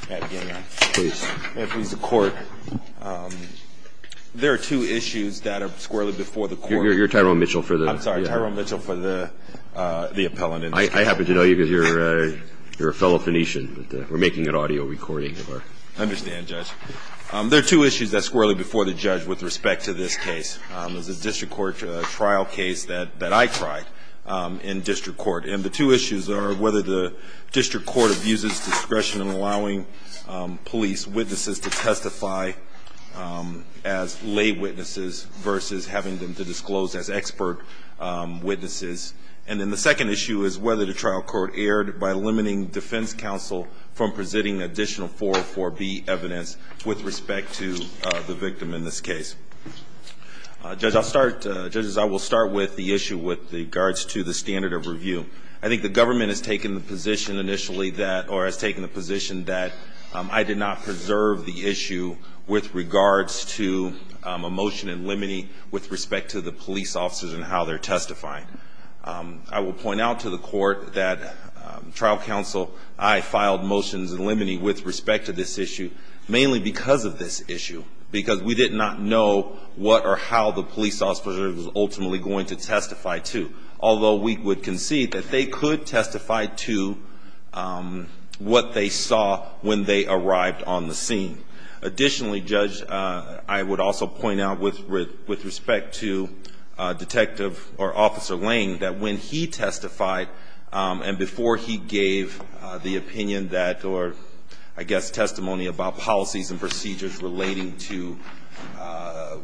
I happen to know you because you're a fellow Phoenician, but we're making an audio recording of our I understand, Judge. There are two issues that squirrelly before the judge with respect to this case. There's a district court trial case that I tried in district court, and the two issues are whether the district court abuses discretion in allowing police witnesses to testify as lay witnesses versus having them to disclose as expert witnesses. And then the second issue is whether the trial court erred by limiting defense counsel from presenting additional 404B evidence with respect to the victim in this case. Judge, I'll start – judges, I will start with the issue with regards to the standard of review. I think the government has taken the position initially that – or has taken the position that I did not preserve the issue with regards to a motion in limine with respect to the police officers and how they're testifying. I will point out to the court that trial counsel, I filed motions in limine with respect to this issue, mainly because of this issue, because we did not know what or how the police officer was ultimately going to testify to. Although we would concede that they could testify to what they saw when they arrived on the scene. Additionally, Judge, I would also point out with respect to Detective or Officer Lane that when he testified and before he gave the opinion that – or I guess testimony about policies and procedures relating to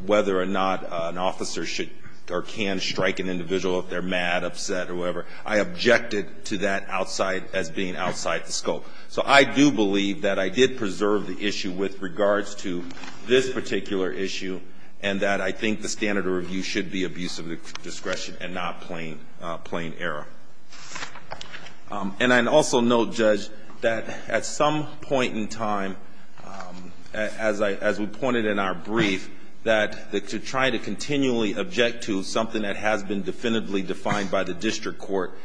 whether or not an officer should or can strike an individual if they're mad, upset, or whatever, I objected to that outside – as being outside the scope. So I do believe that I did preserve the issue with regards to this particular issue and that I think the standard of review should be abuse of discretion and not plain error. And I also note, Judge, that at some point in time, as I – as we pointed in our brief, that to try to continually object to something that has been definitively defined by the district court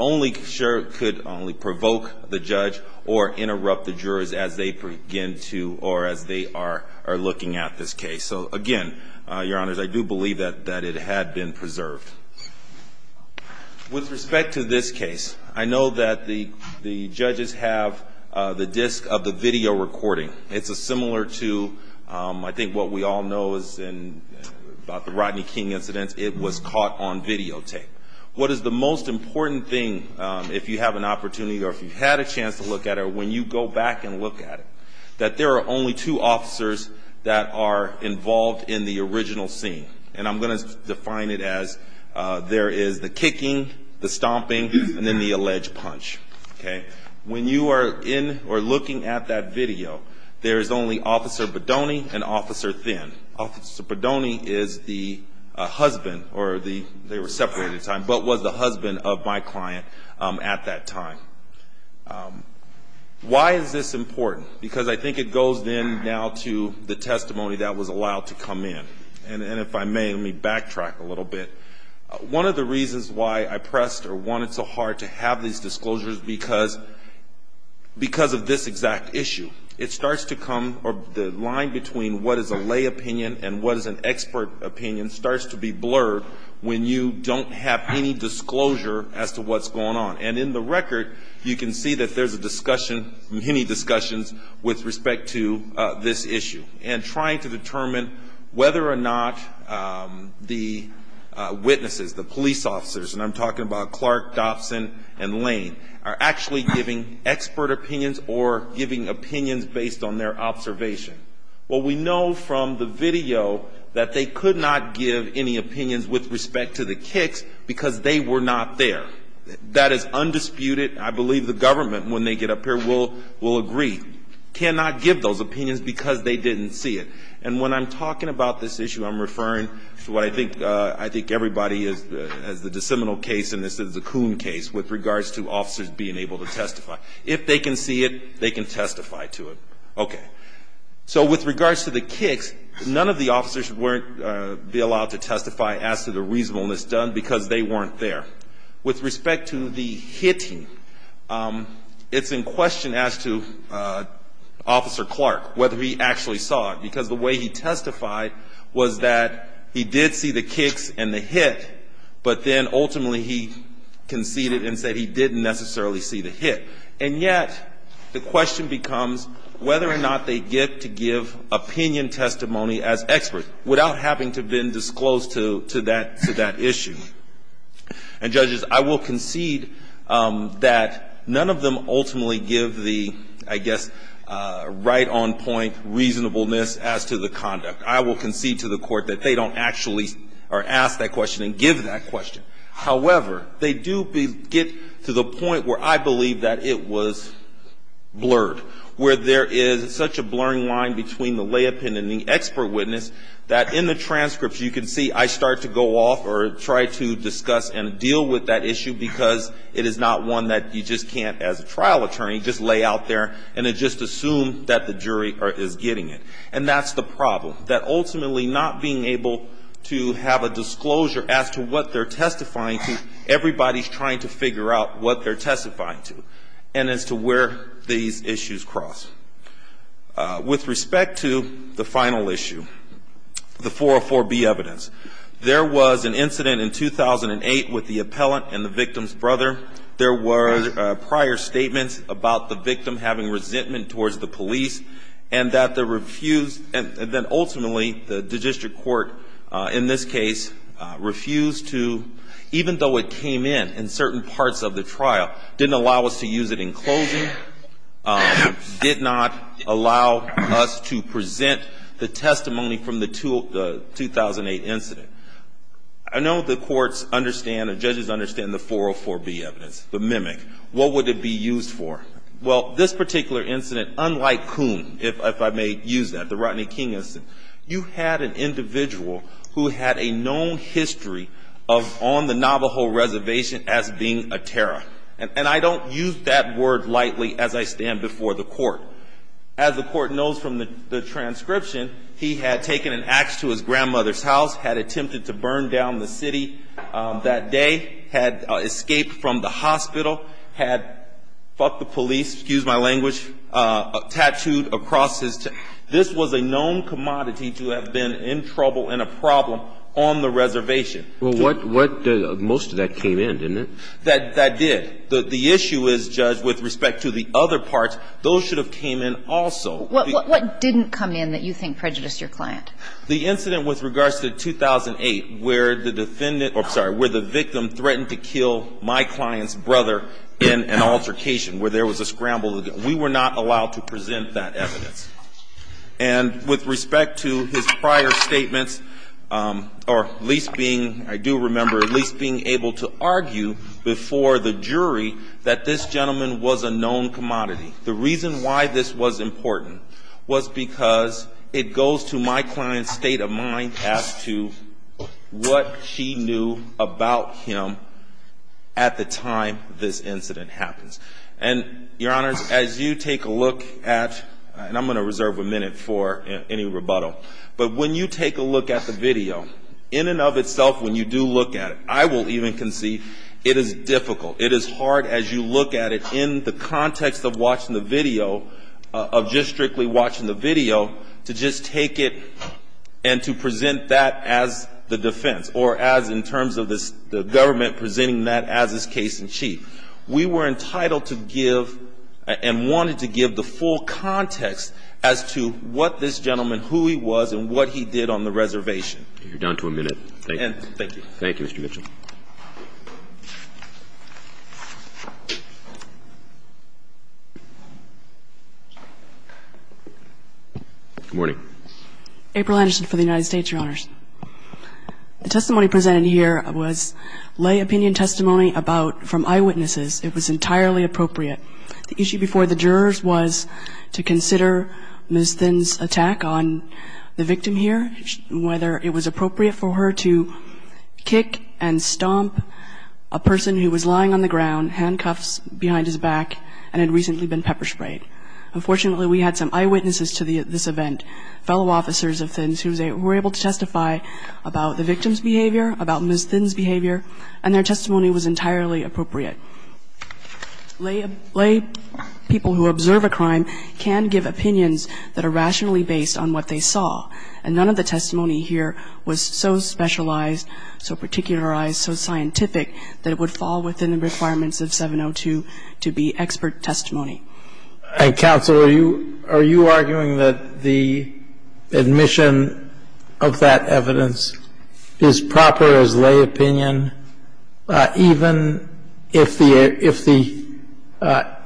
only – sure could only provoke the judge or interrupt the jurors as they begin to – or as they are looking at this case. So, again, Your Honors, I do believe that it had been preserved. With respect to this case, I know that the judges have the disc of the video recording. It's similar to, I think, what we all know about the Rodney King incident. It was caught on videotape. What is the most important thing, if you have an opportunity or if you've had a chance to look at it, when you go back and look at it, that there are only two officers that are involved in the original scene. And I'm going to define it as there is the kicking, the stomping, and then the alleged punch. Okay? When you are in or looking at that video, there is only Officer Bodoni and Officer Thinn. Officer Bodoni is the husband or the – they were separated at the time – but was the husband of my client at that time. Why is this important? Because I think it goes then now to the testimony that was allowed to come in. And if I may, let me backtrack a little bit. One of the reasons why I pressed or wanted so hard to have these disclosures, because of this exact issue. It starts to come – or the line between what is a lay opinion and what is an expert opinion starts to be blurred when you don't have any disclosure as to what's going on. And in the record, you can see that there's a discussion, many discussions, with respect to this issue. And trying to determine whether or not the witnesses, the police officers – and I'm talking about Clark, Dobson, and Lane – are actually giving expert opinions or giving opinions based on their observation. Well, we know from the video that they could not give any opinions with respect to the kicks because they were not there. That is undisputed. I believe the government, when they get up here, will agree. We cannot give those opinions because they didn't see it. And when I'm talking about this issue, I'm referring to what I think everybody is – as the DeSemino case and this is the Coon case with regards to officers being able to testify. If they can see it, they can testify to it. Okay. So with regards to the kicks, none of the officers should be allowed to testify as to the reasonableness done because they weren't there. With respect to the hitting, it's in question as to Officer Clark whether he actually saw it. Because the way he testified was that he did see the kicks and the hit, but then ultimately he conceded and said he didn't necessarily see the hit. And yet the question becomes whether or not they get to give opinion testimony as experts without having to have been disclosed to that issue. And, judges, I will concede that none of them ultimately give the, I guess, right-on-point reasonableness as to the conduct. I will concede to the Court that they don't actually ask that question and give that question. However, they do get to the point where I believe that it was blurred, where there is such a blurring line between the lay opinion that in the transcripts you can see I start to go off or try to discuss and deal with that issue because it is not one that you just can't, as a trial attorney, just lay out there and just assume that the jury is getting it. And that's the problem, that ultimately not being able to have a disclosure as to what they're testifying to, everybody's trying to figure out what they're testifying to and as to where these issues cross. With respect to the final issue, the 404B evidence, there was an incident in 2008 with the appellant and the victim's brother. There were prior statements about the victim having resentment towards the police and that the refused, and then ultimately the district court in this case refused to, even though it came in, in certain parts of the trial, didn't allow us to use it in closing, did not allow us to present the testimony from the 2008 incident. I know the courts understand, the judges understand the 404B evidence, the mimic, what would it be used for? Well, this particular incident, unlike Coombe, if I may use that, the Rodney King incident, you had an individual who had a known history of on the Navajo reservation as being a terror. And I don't use that word lightly as I stand before the court. As the court knows from the transcription, he had taken an ax to his grandmother's house, had attempted to burn down the city that day, had escaped from the hospital, had, fuck the police, excuse my language, tattooed across his, this was a known commodity to have been in trouble and a problem on the reservation. Well, what, most of that came in, didn't it? That did. The issue is, Judge, with respect to the other parts, those should have came in also. What didn't come in that you think prejudiced your client? The incident with regards to 2008 where the defendant, I'm sorry, where the victim threatened to kill my client's brother in an altercation where there was a scramble. We were not allowed to present that evidence. And with respect to his prior statements, or at least being, I do remember at least being able to argue before the jury that this gentleman was a known commodity. The reason why this was important was because it goes to my client's state of mind as to what she knew about him at the time this incident happens. And, Your Honors, as you take a look at, and I'm going to reserve a minute for any rebuttal, but when you take a look at the video, in and of itself, when you do look at it, I will even concede, it is difficult, it is hard as you look at it in the context of watching the video, of just strictly watching the video, to just take it and to present that as the defense, or as in terms of the government presenting that as is case in chief. We were entitled to give and wanted to give the full context as to what this gentleman, who he was, and what he did on the reservation. You're down to a minute. Thank you. Thank you. Thank you, Mr. Mitchell. Good morning. April Anderson for the United States, Your Honors. The testimony presented here was lay opinion testimony about, from eyewitnesses. It was entirely appropriate. The issue before the jurors was to consider Ms. Thin's attack on the victim here, whether it was appropriate for her to kick and stomp a person who was lying on the ground, handcuffs behind his back, and had recently been pepper sprayed. Unfortunately, we had some eyewitnesses to this event, fellow officers of Thin's, who were able to testify about the victim's behavior, about Ms. Thin's behavior, and their testimony was entirely appropriate. Lay people who observe a crime can give opinions that are rationally based on what they saw. And none of the testimony here was so specialized, so particularized, so scientific, that it would fall within the requirements of 702 to be expert testimony. And counsel, are you arguing that the admission of that evidence is proper as lay opinion, even if the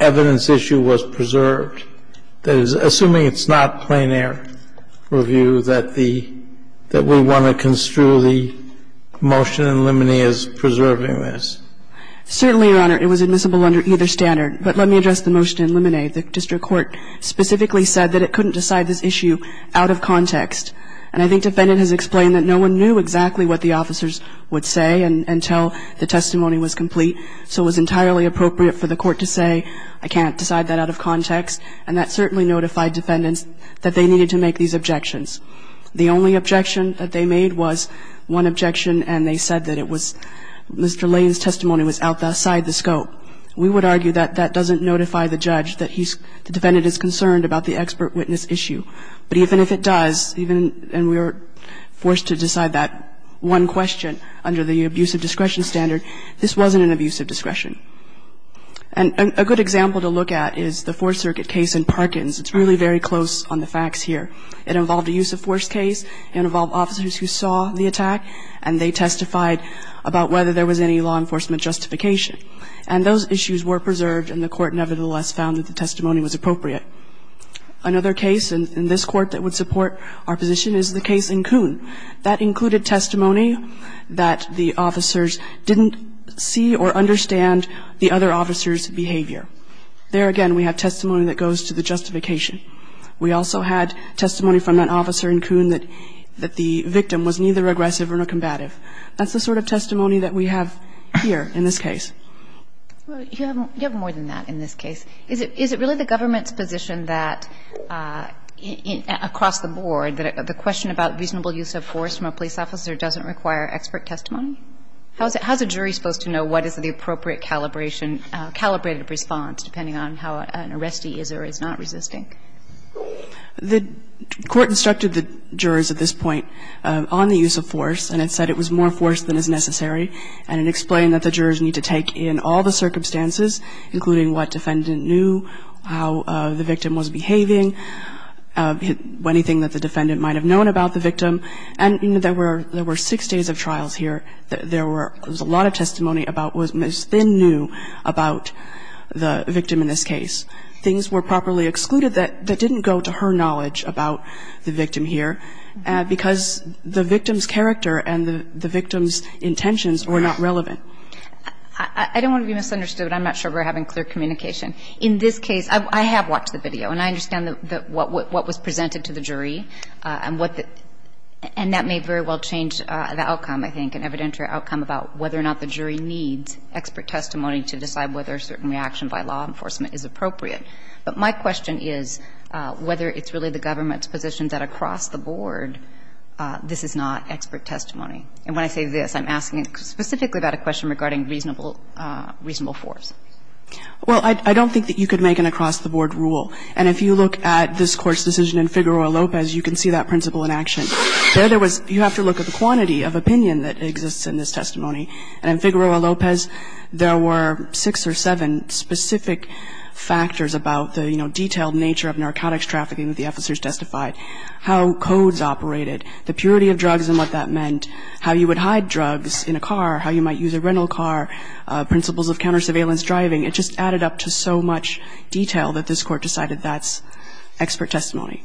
evidence issue was preserved? Assuming it's not plein air review, that we want to construe the motion in limine as preserving this? Certainly, Your Honor. It was admissible under either standard. But let me address the motion in limine. The district court specifically said that it couldn't decide this issue out of context. And I think defendant has explained that no one knew exactly what the officers would say until the testimony was complete, so it was entirely appropriate for the court to say, I can't decide that out of context. And that certainly notified defendants that they needed to make these objections. The only objection that they made was one objection, and they said that it was Mr. Lane's testimony was outside the scope. We would argue that that doesn't notify the judge that the defendant is concerned about the expert witness issue. But even if it does, and we were forced to decide that one question under the abuse of discretion standard, this wasn't an abuse of discretion. And a good example to look at is the Fourth Circuit case in Parkins. It's really very close on the facts here. It involved a use of force case. It involved officers who saw the attack, and they testified about whether there was any law enforcement justification. And those issues were preserved, and the court nevertheless found that the testimony was appropriate. Another case in this Court that would support our position is the case in Kuhn. That included testimony that the officers didn't see or understand the other officers' behavior. There again, we have testimony that goes to the justification. We also had testimony from that officer in Kuhn that the victim was neither aggressive nor combative. That's the sort of testimony that we have here in this case. You have more than that in this case. Is it really the government's position that, across the board, that the question about reasonable use of force from a police officer doesn't require expert testimony? How is a jury supposed to know what is the appropriate calibration, calibrated response, depending on how an arrestee is or is not resisting? The Court instructed the jurors at this point on the use of force, and it said it was more force than is necessary, and it explained that the jurors need to take in all the circumstances, including what defendant knew, how the victim was behaving, anything that the defendant might have known about the victim. And there were six days of trials here. There was a lot of testimony about what Ms. Thin knew about the victim in this case. Things were properly excluded that didn't go to her knowledge about the victim here because the victim's character and the victim's intentions were not relevant. I don't want to be misunderstood, but I'm not sure we're having clear communication. In this case, I have watched the video and I understand what was presented to the jury and what the – and that may very well change the outcome, I think, an evidentiary outcome about whether or not the jury needs expert testimony to decide whether a certain reaction by law enforcement is appropriate. But my question is whether it's really the government's position that across the board this is not expert testimony. And when I say this, I'm asking specifically about a question regarding reasonable – reasonable force. Well, I don't think that you could make an across-the-board rule. And if you look at this Court's decision in Figueroa-Lopez, you can see that principle in action. There, there was – you have to look at the quantity of opinion that exists in this testimony. And in Figueroa-Lopez, there were six or seven specific factors about the, you know, detailed nature of narcotics trafficking that the officers testified, how codes operated, the purity of drugs and what that meant, how you would hide drugs in a car, how you might use a rental car, principles of counter-surveillance driving. It just added up to so much detail that this Court decided that's expert testimony.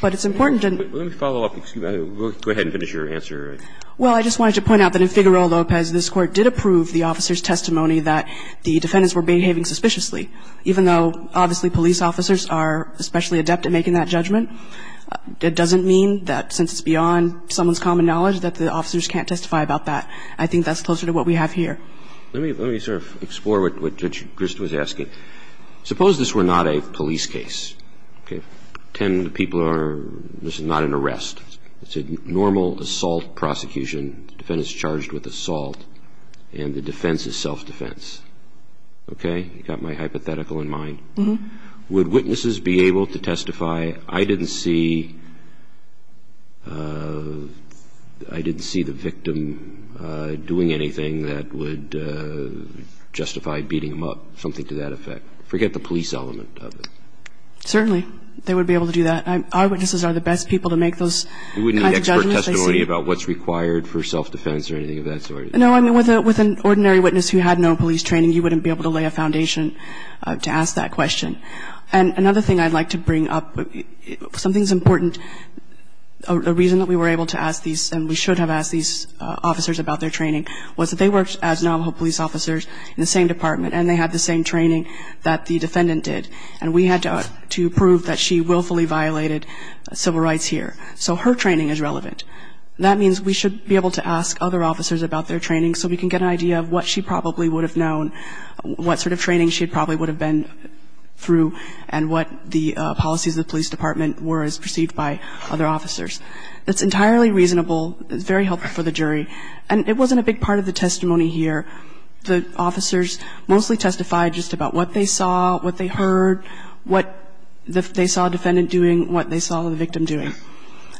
But it's important to – Let me follow up. Excuse me. Go ahead and finish your answer. Well, I just wanted to point out that in Figueroa-Lopez, this Court did approve the officers' testimony that the defendants were behaving suspiciously. Even though, obviously, police officers are especially adept at making that judgment, it doesn't mean that since it's beyond someone's common knowledge that the officers can't testify about that. I think that's closer to what we have here. Let me – let me sort of explore what Judge Grist was asking. Suppose this were not a police case, okay? Ten people are – this is not an arrest. It's a normal assault prosecution. The defendant is charged with assault, and the defense is self-defense. Okay? You got my hypothetical in mind? Mm-hmm. Would witnesses be able to testify, I didn't see – I didn't see the victim doing anything that would justify beating him up, something to that effect? Forget the police element of it. Certainly, they would be able to do that. Our witnesses are the best people to make those kinds of judgments. You wouldn't need expert testimony about what's required for self-defense or anything of that sort? No. I mean, with an ordinary witness who had no police training, you wouldn't be able to lay a foundation to ask that question. And another thing I'd like to bring up, something that's important, a reason that we were able to ask these, and we should have asked these officers about their training, was that they worked as Navajo police officers in the same department, and they had the same training that the defendant did. And we had to prove that she willfully violated civil rights here. So her training is relevant. That means we should be able to ask other officers about their training so we can get an idea of what she probably would have known, what sort of training she probably would have been through, and what the policies of the police department were as perceived by other officers. That's entirely reasonable. It's very helpful for the jury. And it wasn't a big part of the testimony here. The officers mostly testified just about what they saw, what they heard, what they saw a defendant doing, what they saw the victim doing.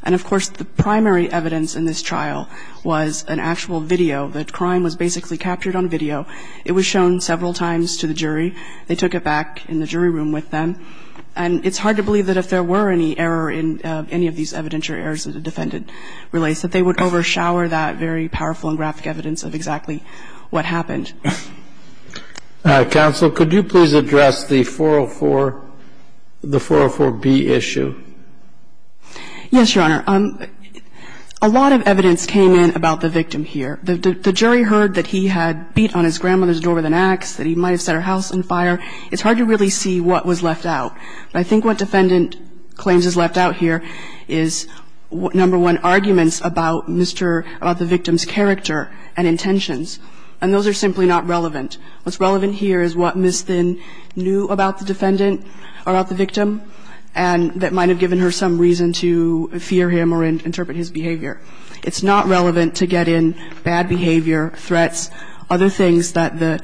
And, of course, the primary evidence in this trial was an actual video. The crime was basically captured on video. It was shown several times to the jury. They took it back in the jury room with them. And it's hard to believe that if there were any error in any of these evidentiary errors that a defendant relates, that they would overshower that very powerful and graphic evidence of exactly what happened. Counsel, could you please address the 404, the 404B issue? Yes, Your Honor. A lot of evidence came in about the victim here. The jury heard that he had beat on his grandmother's door with an axe, that he might have set her house on fire. It's hard to really see what was left out. But I think what defendant claims is left out here is, number one, the arguments about Mr. — about the victim's character and intentions. And those are simply not relevant. What's relevant here is what Ms. Thin knew about the defendant, about the victim, and that might have given her some reason to fear him or interpret his behavior. It's not relevant to get in bad behavior, threats, other things that the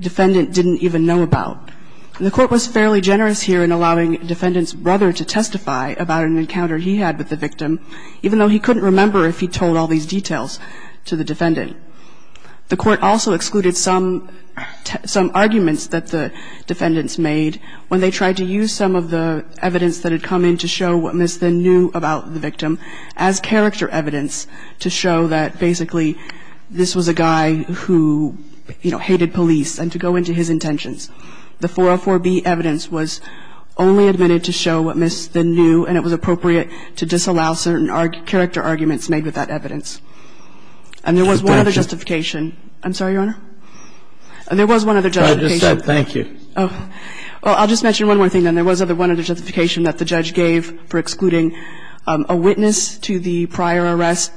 defendant didn't even know about. The Court was fairly generous here in allowing defendant's brother to testify about an encounter he had with the victim, even though he couldn't remember if he told all these details to the defendant. The Court also excluded some arguments that the defendants made when they tried to use some of the evidence that had come in to show what Ms. Thin knew about the victim as character evidence to show that basically this was a guy who, you know, hated police and to go into his intentions. The 404B evidence was only admitted to show what Ms. Thin knew, and it was appropriate to disallow certain character arguments made with that evidence. And there was one other justification. I'm sorry, Your Honor? There was one other justification. I just said thank you. Well, I'll just mention one more thing, then. There was one other justification that the judge gave for excluding a witness to the prior arrest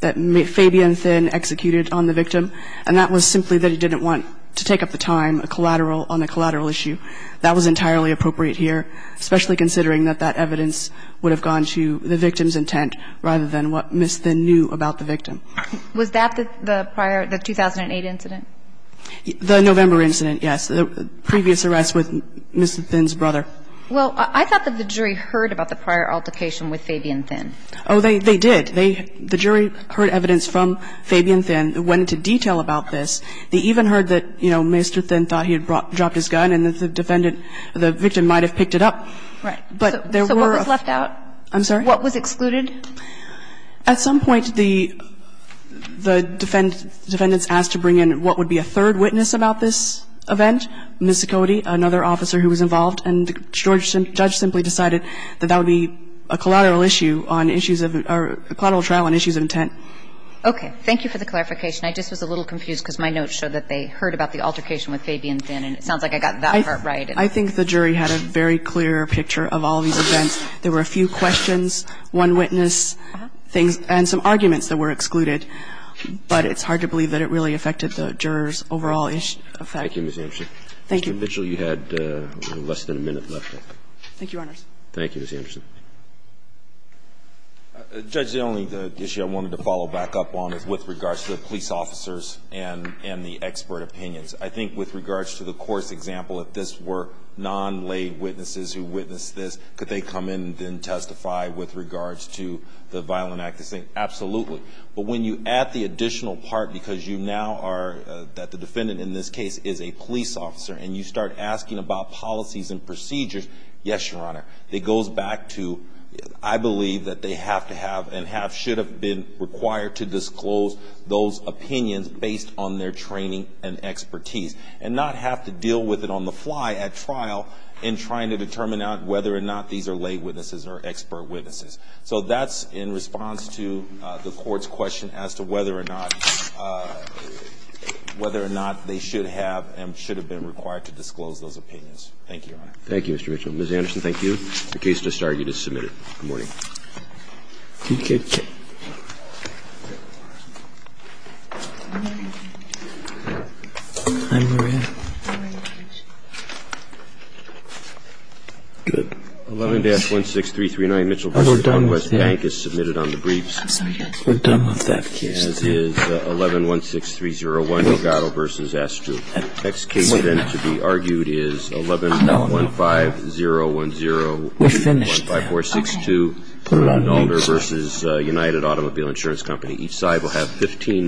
that Fabian Thin executed on the victim, and that was simply that he didn't want to take up the time on the collateral issue. That was entirely appropriate here, especially considering that that evidence would have gone to the victim's intent rather than what Ms. Thin knew about the victim. Was that the prior, the 2008 incident? The November incident, yes, the previous arrest with Ms. Thin's brother. Well, I thought that the jury heard about the prior altercation with Fabian Thin. Oh, they did. The jury heard evidence from Fabian Thin that went into detail about this. They even heard that, you know, Mr. Thin thought he had dropped his gun and that the defendant, the victim might have picked it up. Right. So what was left out? I'm sorry? What was excluded? At some point, the defendants asked to bring in what would be a third witness about this event, Ms. Cote, another officer who was involved, and the judge simply decided that that would be a collateral issue on issues of or a collateral trial on issues of intent. Okay. Thank you for the clarification. I just was a little confused because my notes show that they heard about the altercation with Fabian Thin, and it sounds like I got that part right. I think the jury had a very clear picture of all these events. There were a few questions, one witness things, and some arguments that were excluded, but it's hard to believe that it really affected the jurors' overall effect. Thank you, Ms. Amson. Thank you. Mr. Vigil, you had less than a minute left. Thank you, Your Honors. Thank you, Ms. Anderson. Judge, the only issue I wanted to follow back up on is with regards to the police officers and the expert opinions. I think with regards to the course example, if this were non-laid witnesses who witnessed this, could they come in and then testify with regards to the violent act? Absolutely. But when you add the additional part, because you now are that the defendant in this case is a police officer, and you start asking about policies and procedures, yes, Your Honor, it goes back to I believe that they have to have and should have been required to disclose those opinions based on their training and expertise and not have to deal with it on the fly at trial in trying to determine whether or not these are laid witnesses or expert witnesses. So that's in response to the Court's question as to whether or not they should have and should have been required to disclose those opinions. Thank you, Your Honor. Thank you, Mr. Vigil. Ms. Anderson, thank you. The case just argued is submitted. Good morning. Good morning. I'm Maria. Good. 11-16339 Mitchell v. West Bank is submitted on the briefs. We're done with that case. 11-16301 Delgado v. Astrup. Thank you. Thank you. Thank you. Thank you. Thank you. Thank you. Thank you. Thank you. Thank you. Thank you. Thank you. Thank you. Thank you. Thank you. Thank you.